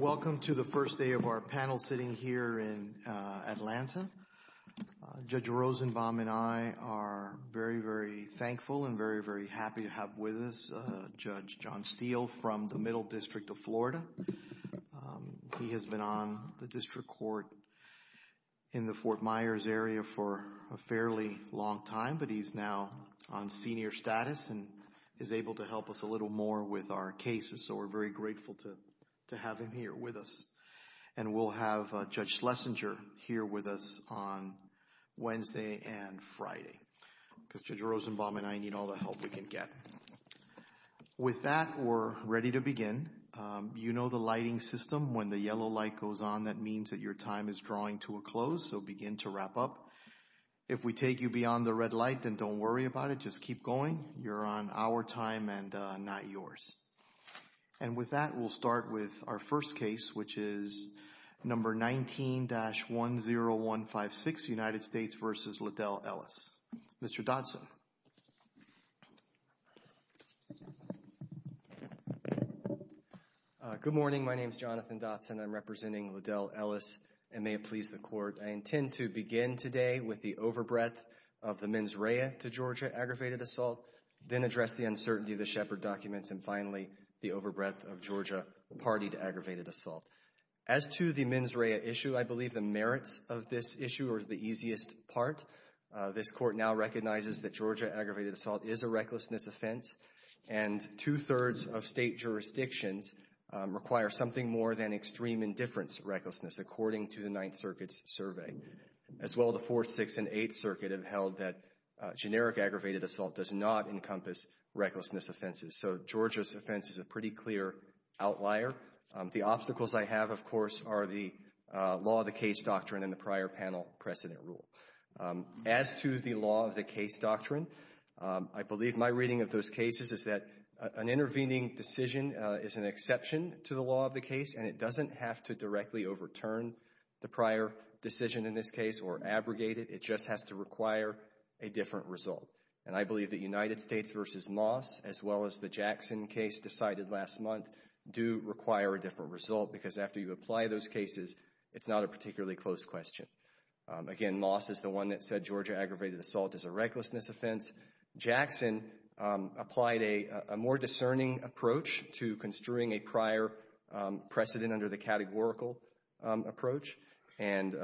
Welcome to the first day of our panel sitting here in Atlanta. Judge Rosenbaum and I are very, very thankful and very, very happy to have with us Judge John Steele from the Middle District Court in the Fort Myers area for a fairly long time, but he's now on senior status and is able to help us a little more with our cases, so we're very grateful to have him here with us. And we'll have Judge Schlesinger here with us on Wednesday and Friday because Judge Rosenbaum and I need all the help we can get. With that, we're that means that your time is drawing to a close, so begin to wrap up. If we take you beyond the red light, then don't worry about it. Just keep going. You're on our time and not yours. And with that, we'll start with our first case, which is number 19-10156, United States v. Ledell Ellis. Mr. Dodson. Good morning. My name is Jonathan Dodson. I'm representing Ledell Ellis and may it please the Court, I intend to begin today with the overbreadth of the mens rea to Georgia aggravated assault, then address the uncertainty of the Shepard documents, and finally, the overbreadth of Georgia-partied aggravated assault. As to the mens rea issue, I believe the merits of this issue are the easiest part. This Court now recognizes that Georgia aggravated assault is a recklessness offense, and two-thirds of state jurisdictions require something more than extreme indifference recklessness, according to the Ninth Circuit's survey. As well, the Fourth, Sixth, and Eighth Circuit have held that generic aggravated assault does not encompass recklessness offenses. So Georgia's offense is a pretty clear outlier. The obstacles I have, of course, are the law of the case doctrine and the prior panel precedent rule. As to the law of the case doctrine, I believe my reading of those cases is that an intervening decision is an exception to the law of the case, and it doesn't have to directly overturn the prior decision in this case or abrogate it. It just has to require a different result. And I believe that United States v. Moss, as well as the Jackson case decided last month, do require a different result, because after you apply those cases, it's not a particularly close question. Again, Moss is the one that said Georgia aggravated assault is a recklessness offense. Jackson applied a more discerning approach to construing a prior precedent under the categorical approach, and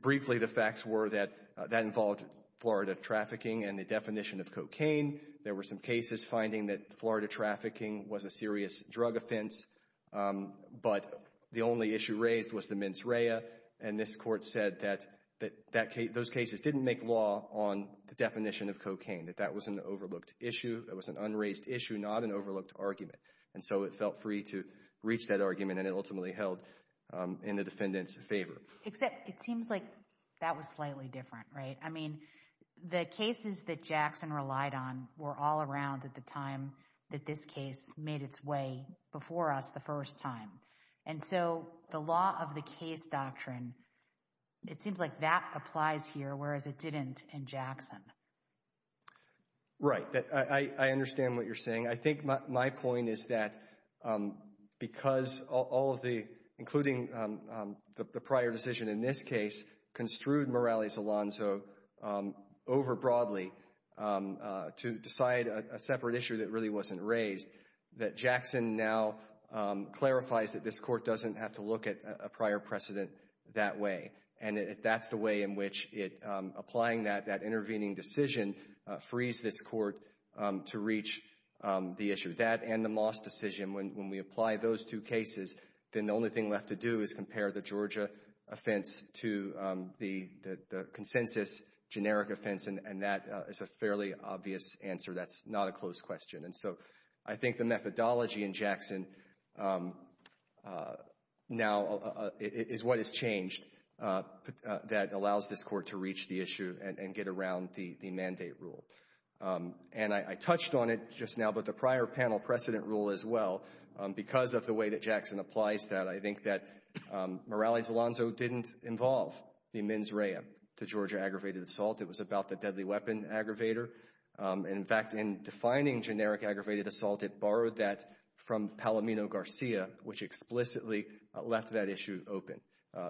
briefly, the facts were that that involved Florida trafficking and the definition of cocaine. There were some cases finding that Florida trafficking was a serious drug offense, but the only issue raised was the mens rea, and this Court said that those cases didn't make law on the definition of cocaine, that that was an overlooked issue. It was an unraised issue, not an overlooked argument. And so it felt free to reach that argument, and it ultimately held in the defendant's favor. Except it seems like that was slightly different, right? I mean, the cases that Jackson relied on were all around at the time that this case made its way before us the first time. And so the law of the case doctrine, it seems like that applies here, whereas it didn't in Jackson. Right. I understand what you're saying. I think my point is that because all of the, including the prior decision in this case, construed Morales-Alonzo over broadly to decide a separate issue that really wasn't raised, that Jackson now clarifies that this Court doesn't have to look at a prior precedent that way. And that's the way in which it, applying that intervening decision, frees this Court to reach the issue. That and the only thing left to do is compare the Georgia offense to the consensus generic offense, and that is a fairly obvious answer. That's not a close question. And so I think the methodology in Jackson now is what has changed that allows this Court to reach the issue and get around the mandate rule. And I touched on it just now, but the fact is, I think that Morales-Alonzo didn't involve the mens rea to Georgia aggravated assault. It was about the deadly weapon aggravator. And in fact, in defining generic aggravated assault, it borrowed that from Palomino-Garcia, which explicitly left that issue open,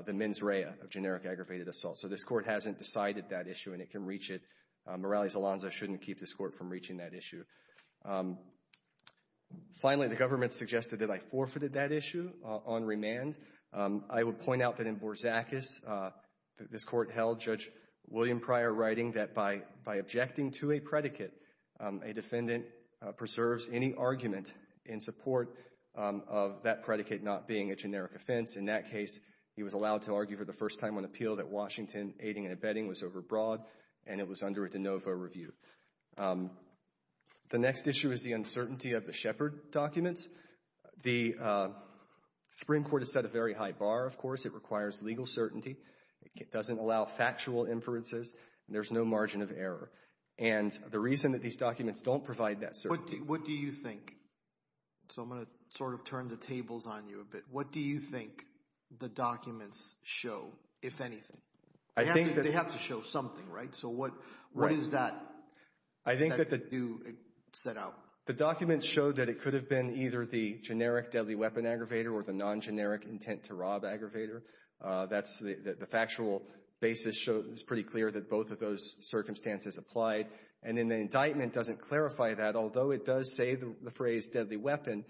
the mens rea of generic aggravated assault. So this Court hasn't decided that issue, and it can reach it. Morales-Alonzo shouldn't keep this Court from reaching that issue. Finally, the government suggested that I forfeited that issue on remand. I would point out that in Borzacus, this Court held Judge William Pryor writing that by objecting to a predicate, a defendant preserves any argument in support of that predicate not being a generic offense. In that case, he was allowed to argue for the first time on appeal that Washington aiding and abetting was overbroad, and it was under a de novo review. The next issue is the uncertainty of the Shepard documents. The Supreme Court has set a very high bar, of course. It requires legal certainty. It doesn't allow factual inferences, and there's no margin of error. And the reason that these documents don't provide that certainty— What do you think? So I'm going to sort of turn the tables on you a bit. What do you think the documents show, if anything? They have to show something, right? So what is that set out? The documents show that it could have been either the generic deadly weapon aggravator or the non-generic intent-to-rob aggravator. The factual basis is pretty clear that both of those circumstances applied. And then the indictment doesn't clarify that, although it does say the phrase deadly weapon,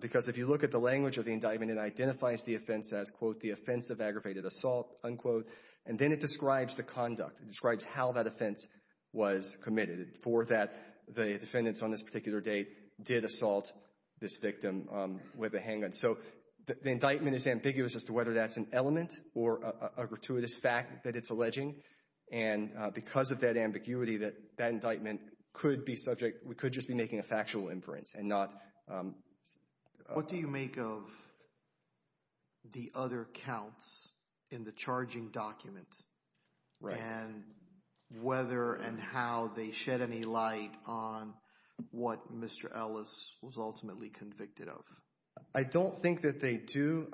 because if you look at the language of the indictment, it identifies the offense as, quote, the offense of aggravated assault, unquote. And then it describes the conduct. It describes how that offense was committed, for that the defendants on this particular date did assault this victim with a handgun. So the indictment is ambiguous as to whether that's an element or a gratuitous fact that it's alleging. And because of that ambiguity, that indictment could be subject—we could just be making a factual inference and not— What do you make of the other counts in the charging document and whether and how they shed any light on what Mr. Ellis was ultimately convicted of? I don't think that they do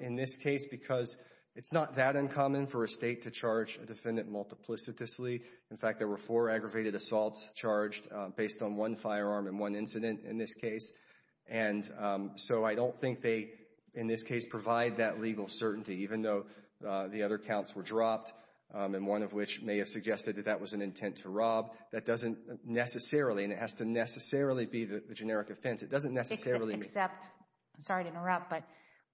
in this case because it's not that uncommon for a state to charge a defendant multiplicitously. In fact, there were four aggravated assaults charged based on one firearm in one incident in this case. And so I don't think they, in this case, provide that legal certainty, even though the other counts were dropped, and one of which may have suggested that that was an intent to rob. That doesn't necessarily—and it has to necessarily be the generic offense—it doesn't necessarily— Except—I'm sorry to interrupt, but,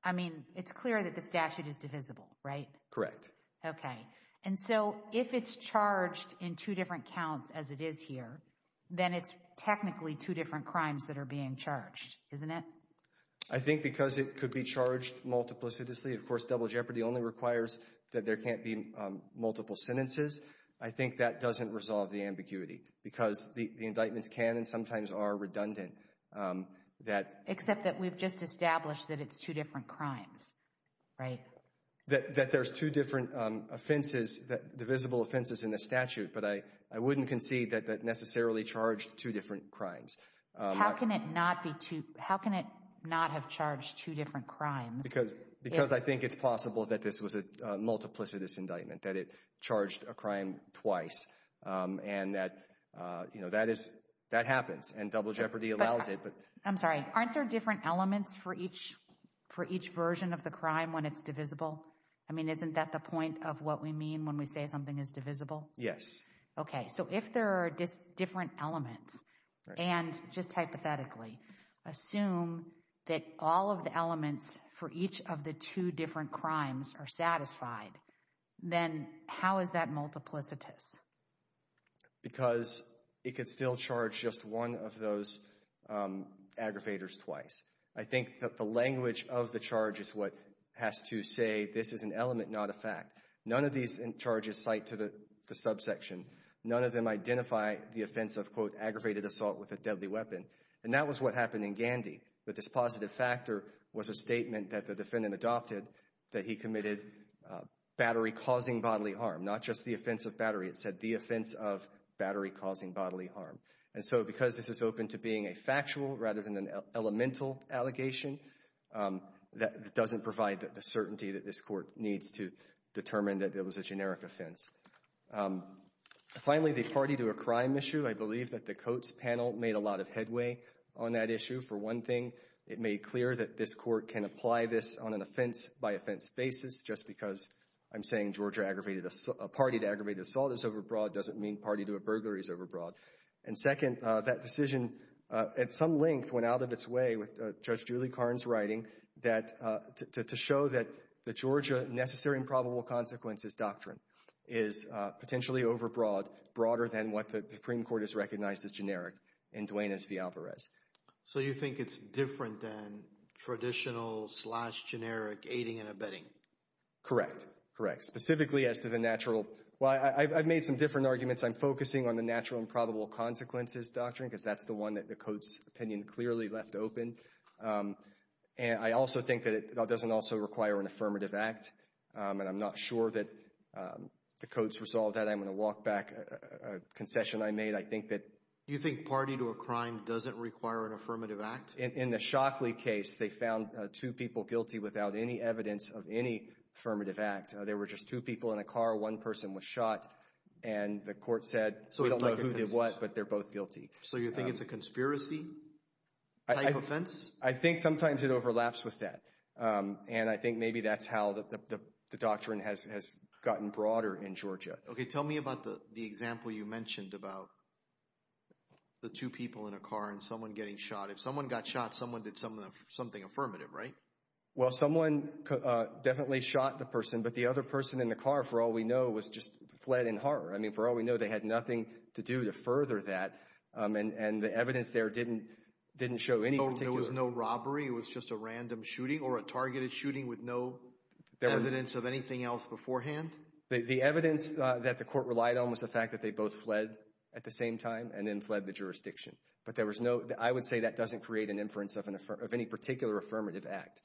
I mean, it's clear that the statute is divisible, right? Correct. Okay. And so if it's charged in two different counts, as it is here, then it's technically two different crimes that are being charged, isn't it? I think because it could be charged multiplicitously—of course, double jeopardy only requires that there can't be multiple sentences—I think that doesn't resolve the ambiguity because the indictments can and sometimes are redundant that— Except that we've just established that it's two different crimes, right? That there's two different offenses, divisible offenses in the statute, but I wouldn't concede that that necessarily charged two different crimes. How can it not be two—how can it not have charged two different crimes? Because I think it's possible that this was a multiplicitous indictment, that it charged a crime twice, and that, you know, that is—that happens, and double jeopardy allows it, but— I'm sorry. Aren't there different elements for each version of the crime when it's divisible? I mean, isn't that the point of what we mean when we say something is divisible? Yes. Okay, so if there are different elements, and just hypothetically, assume that all of the elements for each of the two different crimes are satisfied, then how is that multiplicitous? Because it could still charge just one of those aggravators twice. I think that the defendants say, this is an element, not a fact. None of these charges cite to the subsection. None of them identify the offense of, quote, aggravated assault with a deadly weapon, and that was what happened in Gandhi, but this positive factor was a statement that the defendant adopted that he committed battery-causing bodily harm, not just the offense of battery. It said the offense of battery-causing bodily harm, and so because this is open to being a factual rather than an elemental allegation, that doesn't provide the certainty that this court needs to determine that it was a generic offense. Finally, the party to a crime issue. I believe that the Coates panel made a lot of headway on that issue. For one thing, it made clear that this court can apply this on an offense-by-offense basis just because I'm saying Georgia aggravated—a party to aggravated assault is overbroad doesn't mean party to a burglary is overbroad. And second, that decision at some length went out of its way with Judge Julie Carnes' writing that—to show that the Georgia necessary and probable consequences doctrine is potentially overbroad, broader than what the Supreme Court has recognized as generic in Duenas v. Alvarez. So you think it's different than traditional-slash-generic aiding and abetting? Correct. Correct. Specifically as to the natural—well, I've made some different arguments. I'm focusing on the natural and probable consequences doctrine because that's the one that the Coates opinion clearly left open. I also think that it doesn't also require an affirmative act, and I'm not sure that the Coates resolved that. I'm going to walk back a concession I made. I think that— Do you think party to a crime doesn't require an affirmative act? In the Shockley case, they found two people guilty without any evidence of any affirmative act. There were just two people in a car. One person was shot, and the court said, we don't know who did what, but they're both guilty. So you think it's a conspiracy-type offense? I think sometimes it overlaps with that, and I think maybe that's how the doctrine has gotten broader in Georgia. Okay, tell me about the example you mentioned about the two people in a car and someone getting shot. If someone got shot, someone did something affirmative, right? Well someone definitely shot the person, but the other person in the car, for all we know, was just fled in horror. I mean, for all we know, they had nothing to do to further that, and the evidence there didn't show any particular— So there was no robbery? It was just a random shooting or a targeted shooting with no evidence of anything else beforehand? The evidence that the court relied on was the fact that they both fled at the same time and then fled the jurisdiction. But there was no—I would say that doesn't create an inference of any particular affirmative act.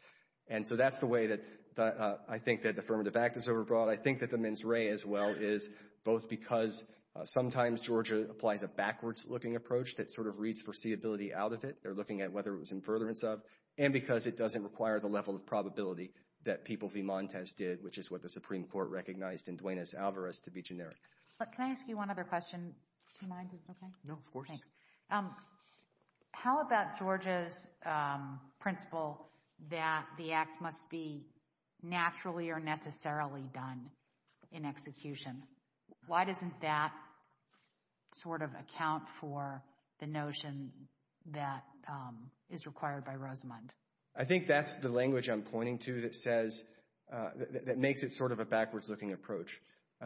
And so that's the way that I think that the affirmative act is overbroad. I think that the mens rea as well is both because sometimes Georgia applies a backwards-looking approach that sort of reads foreseeability out of it. They're looking at whether it was in furtherance of, and because it doesn't require the level of probability that people v. Montes did, which is what the Supreme Court recognized in Duenas-Alvarez to be generic. But can I ask you one other question, if you mind? Is it okay? No, of course. Thanks. How about Georgia's principle that the act must be naturally or necessarily done in execution? Why doesn't that sort of account for the notion that is required by Rosamund? I think that's the language I'm pointing to that says—that makes it sort of a backwards-looking approach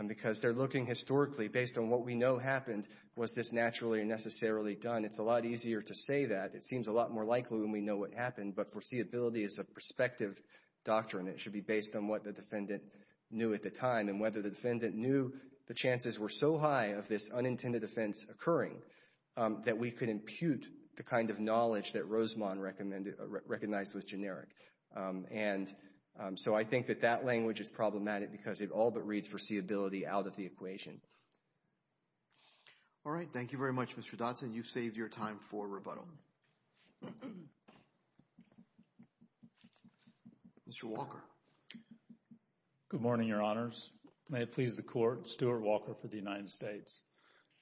because they're looking historically based on what we know happened. Was this naturally or necessarily done? It's a lot easier to say that. It seems a lot more likely when we know what happened. But foreseeability is a perspective doctrine. It should be based on what the defendant knew at the time and whether the defendant knew the chances were so high of this unintended offense occurring that we could impute the kind of knowledge that Rosamond recognized was generic. And so I think that that language is problematic because it all but reads foreseeability out of the equation. All right. Thank you very much, Mr. Dodson. You've saved your time for rebuttal. Mr. Walker. Good morning, Your Honors. May it please the Court, Stuart Walker for the United States.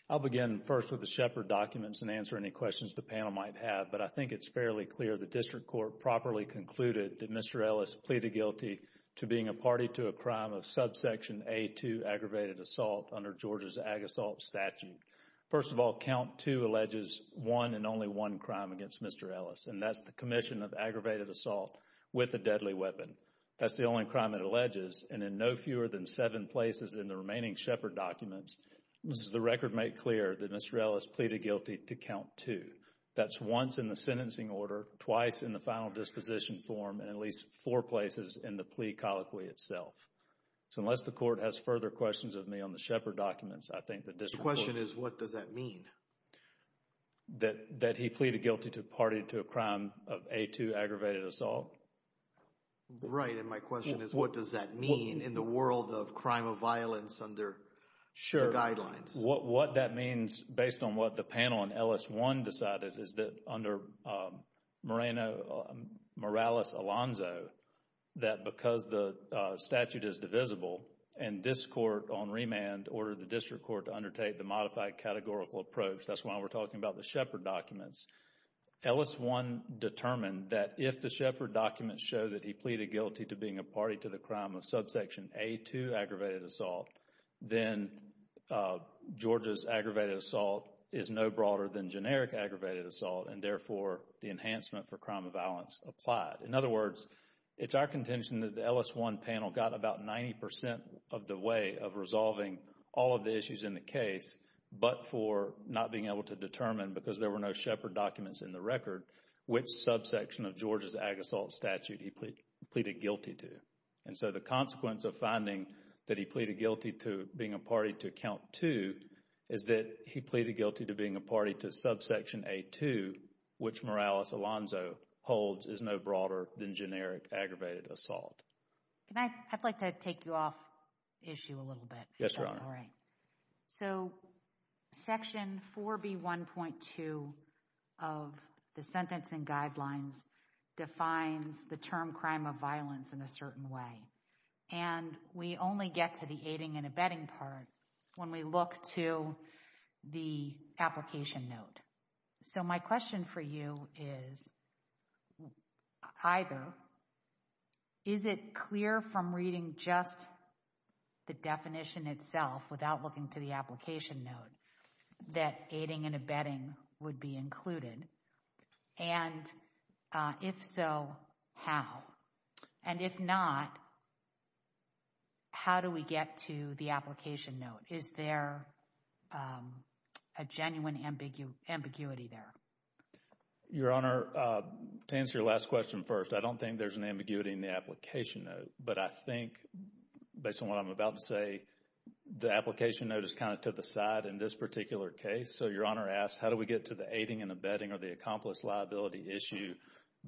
I'll begin first with the Shepard documents and answer any questions the panel might have, but I think it's fairly clear the district court properly concluded that Mr. Ellis pleaded guilty to being a party to a crime of subsection A2, aggravated assault, under Georgia's Ag Assault Statute. First of all, count two alleges one and only one crime against Mr. Ellis, and that's the commission of aggravated assault with a deadly weapon. That's the only crime it alleges, and in no fewer than seven places in the remaining Shepard documents does the record make clear that Mr. Ellis pleaded guilty to count two. That's once in the sentencing form and at least four places in the plea colloquy itself. So unless the court has further questions of me on the Shepard documents, I think the district court... The question is, what does that mean? That he pleaded guilty to party to a crime of A2 aggravated assault. Right, and my question is, what does that mean in the world of crime of violence under the guidelines? What that means, based on what the panel in Ellis 1 decided, is that under Morales-Alonzo, that because the statute is divisible and this court on remand ordered the district court to undertake the modified categorical approach, that's why we're talking about the Shepard documents. Ellis 1 determined that if the Shepard documents show that he pleaded Georgia's aggravated assault is no broader than generic aggravated assault, and therefore the enhancement for crime of violence applied. In other words, it's our contention that the Ellis 1 panel got about 90% of the way of resolving all of the issues in the case, but for not being able to determine, because there were no Shepard documents in the record, which subsection of Georgia's ag assault statute he pleaded guilty to. And so the consequence of finding that he pleaded guilty to being a party to account 2 is that he pleaded guilty to being a party to subsection A2, which Morales-Alonzo holds is no broader than generic aggravated assault. Can I, I'd like to take you off the issue a little bit. Yes, Your Honor. If that's all right. So, section 4B1.2 of the sentencing guidelines defines the term crime of violence in a certain way. And we only get to the aiding and abetting part when we look to the application note. So my question for you is either, is it clear from reading just the definition itself without looking to the application note that aiding and abetting would be included? And if so, how? And if not, how do we get to the application note? Is there a genuine ambiguity there? Your Honor, to answer your last question first, I don't think there's an ambiguity in the application note. But I think, based on what I'm about to say, the application note is kind of to the side in this particular case. So Your Honor asks, how do we get to the aiding and abetting or the accomplice liability issue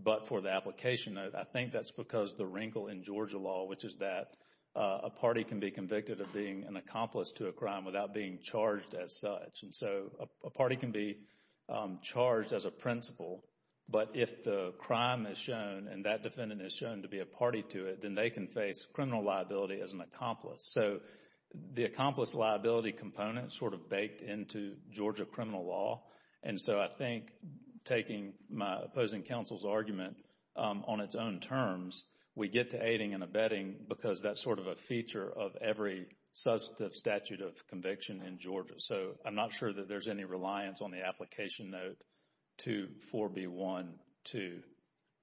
but for the application note? I think that's because the wrinkle in Georgia law, which is that a party can be convicted of being an accomplice to a crime without being charged as such. And so a party can be charged as a principal. But if the crime is shown and that defendant is shown to be a party to it, then they can face criminal liability as an accomplice. So the accomplice liability component sort of baked into Georgia criminal law. And so I think taking my opposing counsel's argument on its own terms, we get to aiding and abetting because that's sort of a feature of every substantive statute of conviction in Georgia. So I'm not sure that there's any reliance on the application note to 4B12,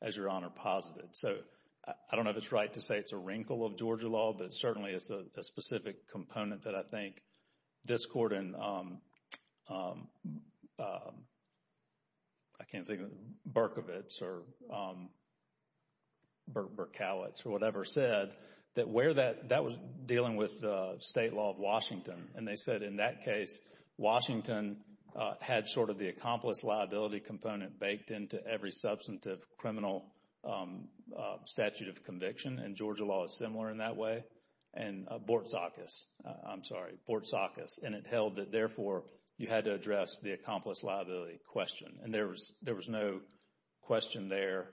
as Your Honor posited. So I don't know if it's right to say it's a wrinkle of Georgia law, but certainly it's a specific component that I think this Court and, I can't think of it, Berkovitz or Berkowitz or whatever said that where that, that was dealing with the state law of Washington. And they said in that case, Washington had sort of the accomplice liability component baked into every substantive criminal statute of conviction. And Georgia law is similar in that way. And Bortzakis, I'm sorry, Bortzakis. And it held that therefore you had to address the accomplice liability question. And there was, there was no question there.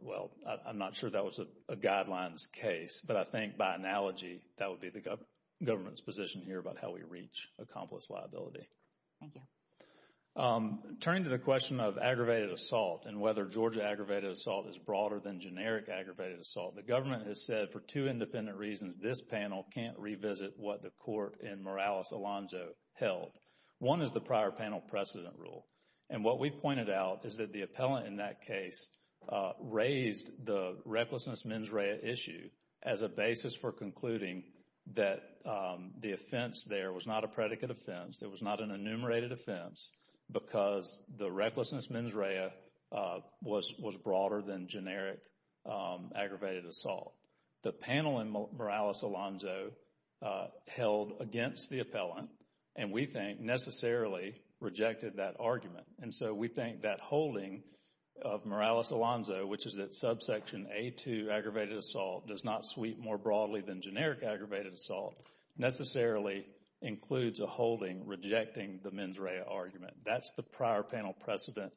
Well, I'm not sure that was a guidelines case, but I think by analogy, that would be the government's position here about how we reach accomplice liability. Thank you. Turning to the question of aggravated assault and whether Georgia aggravated assault is broader than generic aggravated assault, the government has said for two independent reasons this panel can't revisit what the Court in Morales-Alonzo held. One is the prior panel precedent rule. And what we've pointed out is that the appellant in that case raised the recklessness mens rea issue as a basis for concluding that the offense there was not a predicate offense, there was not an enumerated offense, because the recklessness mens rea was broader than generic aggravated assault. The panel in Morales-Alonzo held against the appellant and we think necessarily rejected that argument. And so we think that holding of Morales-Alonzo, which is that subsection A2, aggravated assault, does not sweep more rejecting the mens rea argument. That's the prior panel precedent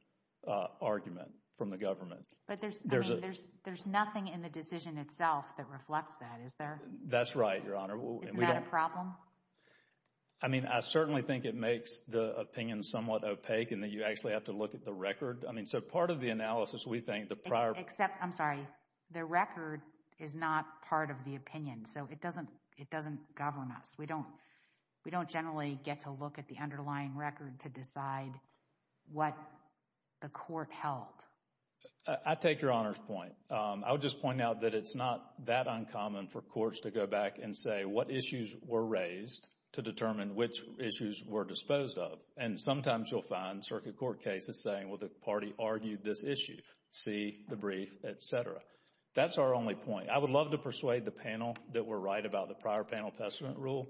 argument from the government. But there's, I mean, there's nothing in the decision itself that reflects that, is there? That's right, Your Honor. Isn't that a problem? I mean, I certainly think it makes the opinion somewhat opaque in that you actually have to look at the record. I mean, so part of the analysis, we think the prior... Except, I'm sorry, the record is not part of the opinion. So it doesn't govern us. We don't generally get to look at the underlying record to decide what the court held. I take Your Honor's point. I would just point out that it's not that uncommon for courts to go back and say what issues were raised to determine which issues were disposed of. And sometimes you'll find circuit court cases saying, well, the party argued this issue, see the brief, etc. That's our only point. I would love to persuade the panel that we're right about the prior panel precedent rule,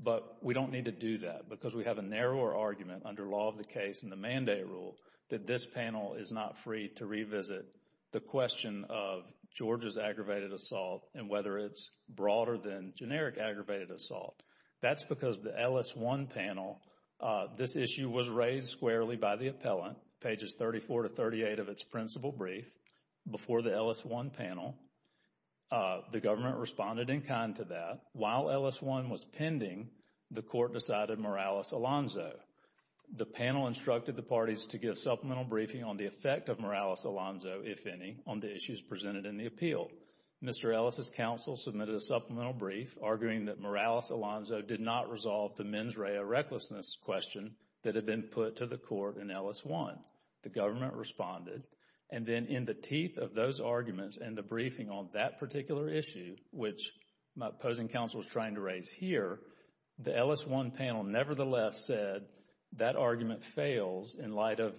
but we don't need to do that because we have a narrower argument under law of the case and the mandate rule that this panel is not free to revisit the question of Georgia's aggravated assault and whether it's broader than generic aggravated assault. That's because the LS1 panel, this issue was raised squarely by the appellant, pages 34 to 38 of its principal brief, before the LS1 panel. The government responded in kind to that. While LS1 was pending, the court decided Morales-Alonzo. The panel instructed the parties to give supplemental briefing on the effect of Morales-Alonzo, if any, on the issues presented in the appeal. Mr. Ellis' counsel submitted a supplemental brief arguing that Morales-Alonzo did not resolve the mens rea recklessness question that had been put to the court in LS1. The government responded. And then in the teeth of those arguments and the briefing on that particular issue, which my opposing counsel was trying to raise here, the LS1 panel nevertheless said that argument fails in light of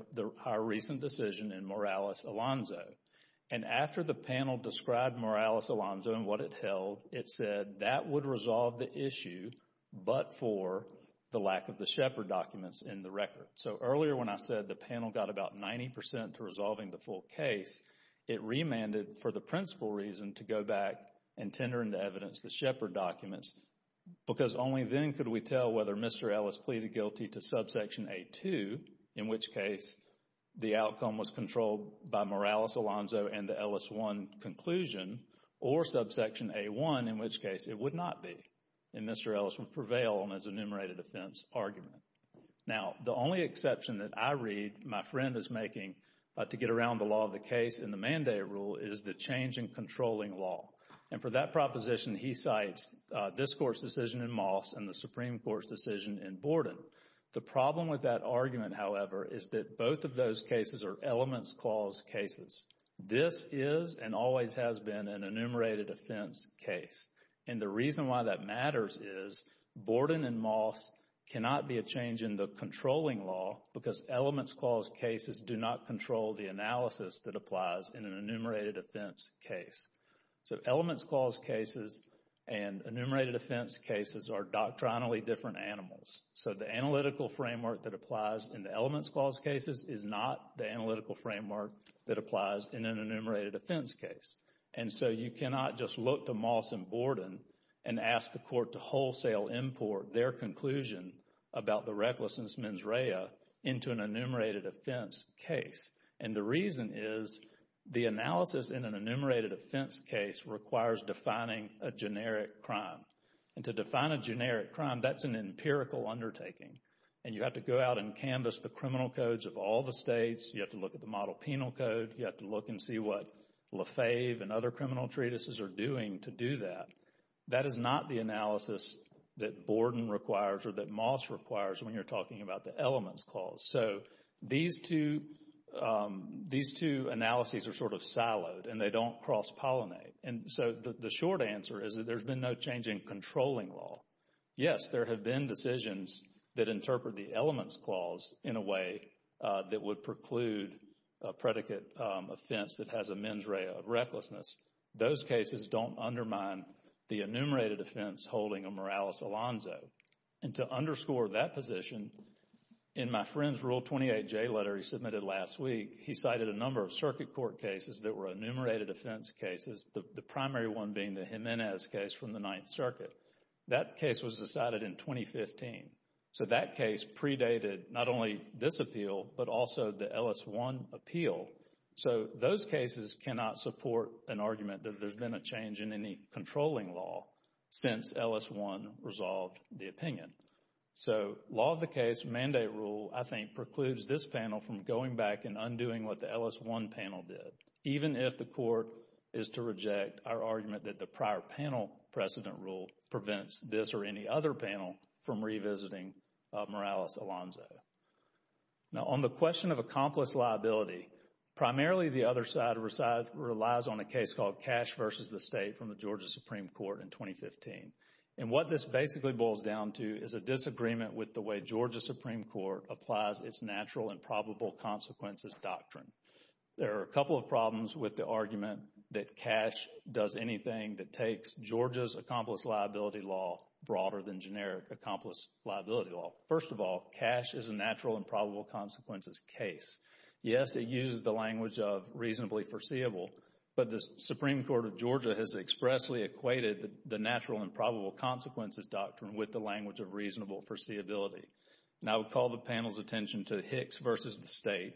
our recent decision in Morales-Alonzo. And after the panel described Morales-Alonzo and what it held, it said that would resolve the issue but for the lack of the Shepard documents in the record. So earlier when I said the panel got about 90 percent to resolving the principle case, it remanded for the principle reason to go back and tender into evidence the Shepard documents because only then could we tell whether Mr. Ellis pleaded guilty to subsection A2, in which case the outcome was controlled by Morales-Alonzo and the LS1 conclusion, or subsection A1, in which case it would not be. And Mr. Ellis would prevail on his enumerated offense argument. Now, the only exception that I read my friend is making to get around the law of the case in the Mandate Rule is the change in controlling law. And for that proposition, he cites this Court's decision in Moss and the Supreme Court's decision in Borden. The problem with that argument, however, is that both of those cases are elements clause cases. This is and always has been an enumerated offense case. And the reason why that matters is Borden and Moss cannot be a change in the controlling law because elements clause cases do not control the analysis that applies in an enumerated offense case. So elements clause cases and enumerated offense cases are doctrinally different animals. So the analytical framework that applies in the elements clause cases is not the analytical framework that applies in an enumerated offense case. And so you cannot just look to Moss and Borden and ask the Court to wholesale import their conclusion about the recklessness of the mens rea into an enumerated offense case. And the reason is the analysis in an enumerated offense case requires defining a generic crime. And to define a generic crime, that's an empirical undertaking. And you have to go out and canvass the criminal codes of all the states. You have to look at the model penal code. You have to look and see what Lefebvre and other criminal treatises are doing to do that. That is not the analysis that Borden requires or that Moss requires when you're talking about the elements clause. So these two analyses are sort of siloed and they don't cross-pollinate. And so the short answer is that there's been no change in controlling law. Yes, there have been decisions that interpret the elements clause in a way that would preclude a predicate offense that has a mens rea of an enumerated offense case. And to underscore that position, in my friend's Rule 28J letter he submitted last week, he cited a number of circuit court cases that were enumerated offense cases, the primary one being the Jimenez case from the Ninth Circuit. That case was decided in 2015. So that case predated not only this appeal, but also the Ellis One appeal. So those cases cannot support an argument that there's been a change in any controlling law since Ellis One resolved the opinion. So law of the case mandate rule I think precludes this panel from going back and undoing what the Ellis One panel did, even if the court is to reject our argument that the prior panel precedent rule prevents this or any other panel from revisiting Morales-Alonzo. Now on the question of accomplice liability, primarily the other side relies on a case called Cash versus the State from the Georgia Supreme Court in 2015. And what this basically boils down to is a disagreement with the way Georgia Supreme Court applies its natural and probable consequences doctrine. There are a couple of problems with the argument that cash does anything that takes Georgia's accomplice liability law broader than generic accomplice liability law. First of all, cash is a natural and probable consequences case. Yes, it uses the language of reasonably foreseeable, but the Supreme Court of Georgia has expressly equated the natural and probable consequences doctrine with the language of reasonable foreseeability. And I would call the panel's attention to Hicks versus the State,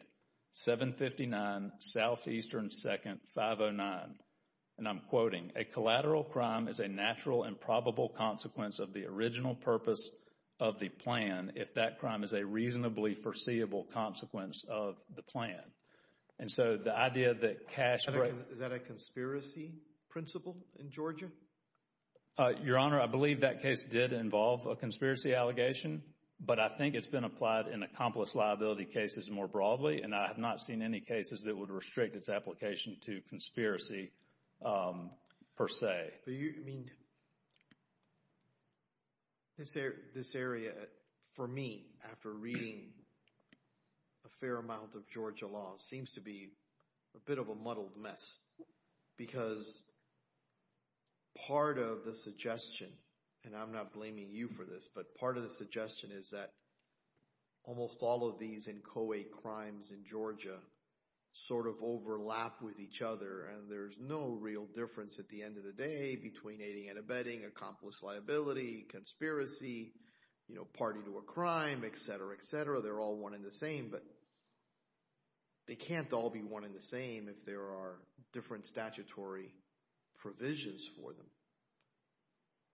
759 Southeastern 2nd, 509. And I'm quoting, a collateral crime is a natural and probable consequence of the original purpose of the plan if that crime is a reasonably foreseeable consequence of the plan. And so, the idea that cash... Is that a conspiracy principle in Georgia? Your Honor, I believe that case did involve a conspiracy allegation, but I think it's been applied in accomplice liability cases more broadly, and I have not seen any cases that would restrict its application to conspiracy per se. But you, I mean, this area, for me, after reading a fair amount of Georgia law, seems to be a bit of a muddled mess, because part of the suggestion, and I'm not blaming you for this, but part of the suggestion is that almost all of these in co-ed crimes in Georgia sort of overlap with each other, and there's no real difference at the end of the day between aiding and abetting, accomplice liability, conspiracy, you know, party to a crime, etc., etc. They're all one and the same, but they can't all be one and the same if there are different statutory provisions for them.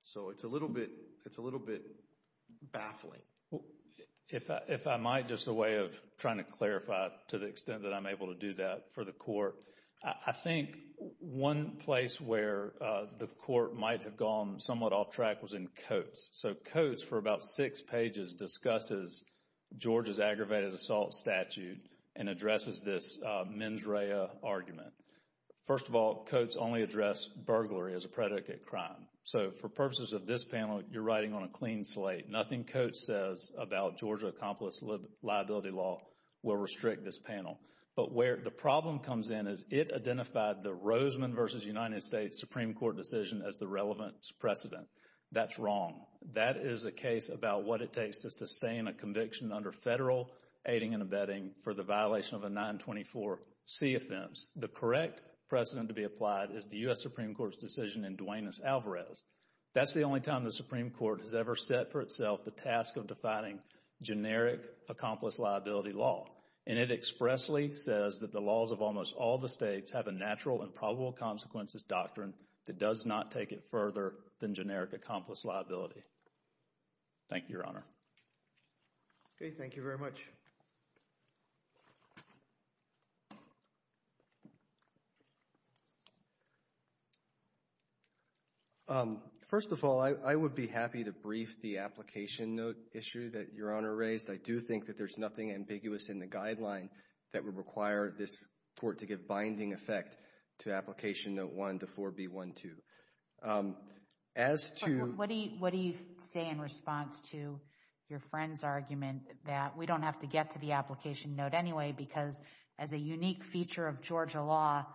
So, it's a little bit, it's a little bit baffling. If I might, just a way of trying to clarify, to the extent that I'm able to do that for the Court, I think one place where the Court might have gone somewhat off track was in Coates. So, Coates, for about six pages, discusses Georgia's aggravated assault statute and addresses this mens rea argument. First of all, Coates only addressed burglary as a predicate crime. So, for purposes of this panel, you're writing on a clean slate. Nothing Coates says about Georgia accomplice liability law will restrict this panel. But where the problem comes in is it identified the Rosman v. United States Supreme Court decision as the relevant precedent. That's wrong. That is a case about what it takes to sustain a conviction under federal aiding and abetting for the violation of a 924C offense. The correct precedent to be That's the only time the Supreme Court has ever set for itself the task of defining generic accomplice liability law. And it expressly says that the laws of almost all the states have a natural and probable consequences doctrine that does not take it further than generic First of all, I would be happy to brief the application note issue that Your Honor raised. I do think that there's nothing ambiguous in the guideline that would require this Court to give binding effect to Application Note 1 to 4B12. As to What do you say in response to your friend's argument that we don't have to get to the application note anyway because as a unique feature of Georgia law,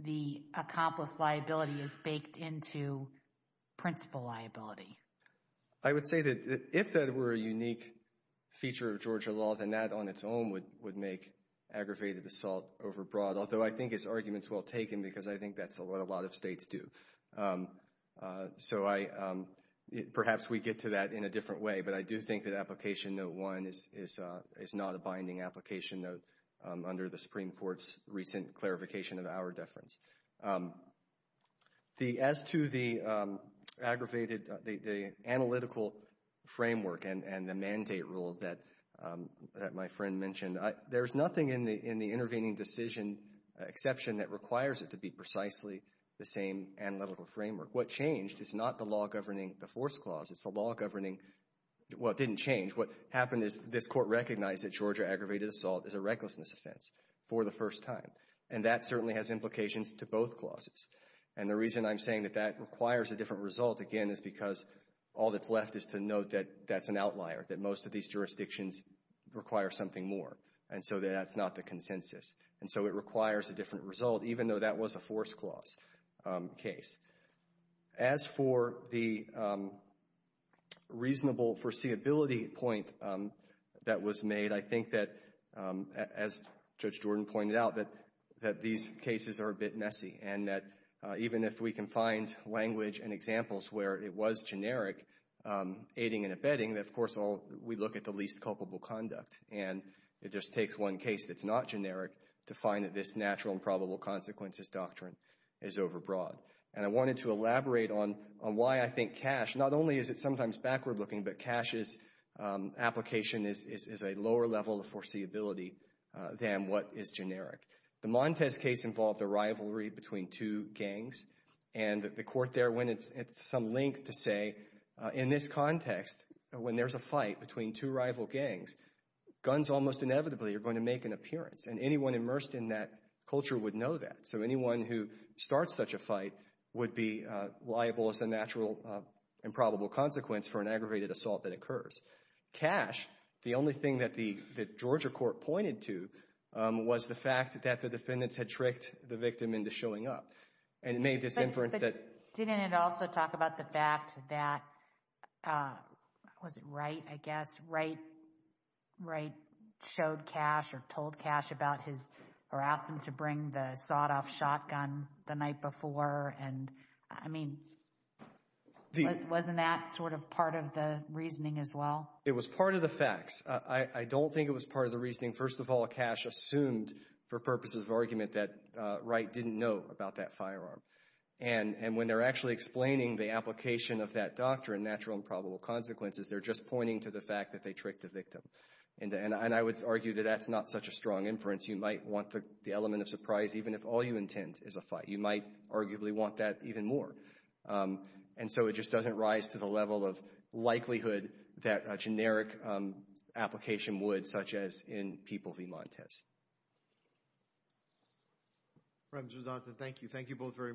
the accomplice liability is baked into principal liability? I would say that if that were a unique feature of Georgia law, then that on its own would make aggravated assault overbroad. Although I think his argument is well taken because I think that's what a lot of states do. So I, perhaps we get to that in a different way, but I do think that Application Note 1 is not a binding application note under the Supreme Court's recent clarification of our deference. As to the aggravated, the analytical framework and the mandate rule that my friend mentioned, there's nothing in the intervening decision exception that requires it to be precisely the same analytical framework. What changed is not the law governing the force clause. It's the law governing, well, it didn't change. What happened is this Court recognized that Georgia aggravated assault is a recklessness offense for the first time. And that certainly has implications to both clauses. And the reason I'm saying that that requires a different result again is because all that's left is to note that that's an outlier, that most of these jurisdictions require something more. And so that's not the consensus. And so it requires a different result, even though that was a force clause case. As for the reasonable foreseeability point that was made, I think that, as Judge Jordan pointed out, that these cases are a bit messy. And that even if we can find language and examples where it was generic aiding and abetting, of course, we look at the least culpable conduct. And it just takes one case that's not generic to find that this natural and probable consequences doctrine is overbroad. And I wanted to elaborate on why I think Cash, not only is it sometimes backward looking, but Cash's application is a lower level of foreseeability than what is generic. The Montez case involved a rivalry between two gangs. And the court there went at some length to say, in this context, when there's a fight between two rival gangs, guns almost inevitably are going to make an appearance. And anyone immersed in that culture would know that. So anyone who starts such a fight would be liable as a natural and probable consequence for an aggravated assault that occurs. Cash, the only thing that the Georgia court pointed to was the fact that the defendants had tricked the victim into showing up and made this inference that... But didn't it also talk about the fact that, was it Wright, I guess, Wright showed Cash or told Cash about his, or asked him to bring the sawed-off shotgun the night before? And I mean, wasn't that sort of part of the reasoning as well? It was part of the facts. I don't think it was part of the reasoning. First of all, Cash assumed for purposes of argument that Wright didn't know about that firearm. And when they're actually explaining the application of that doctrine, natural and probable consequences, they're just pointing to the fact that they tricked the victim. And I would argue that that's not such a strong inference. You might want the element of surprise even if all you intend is a fight. You might arguably want that even more. And so it just doesn't rise to the level of likelihood that a generic application would, such as in People v. Montez. Representative Johnson, thank you. Thank you both very much.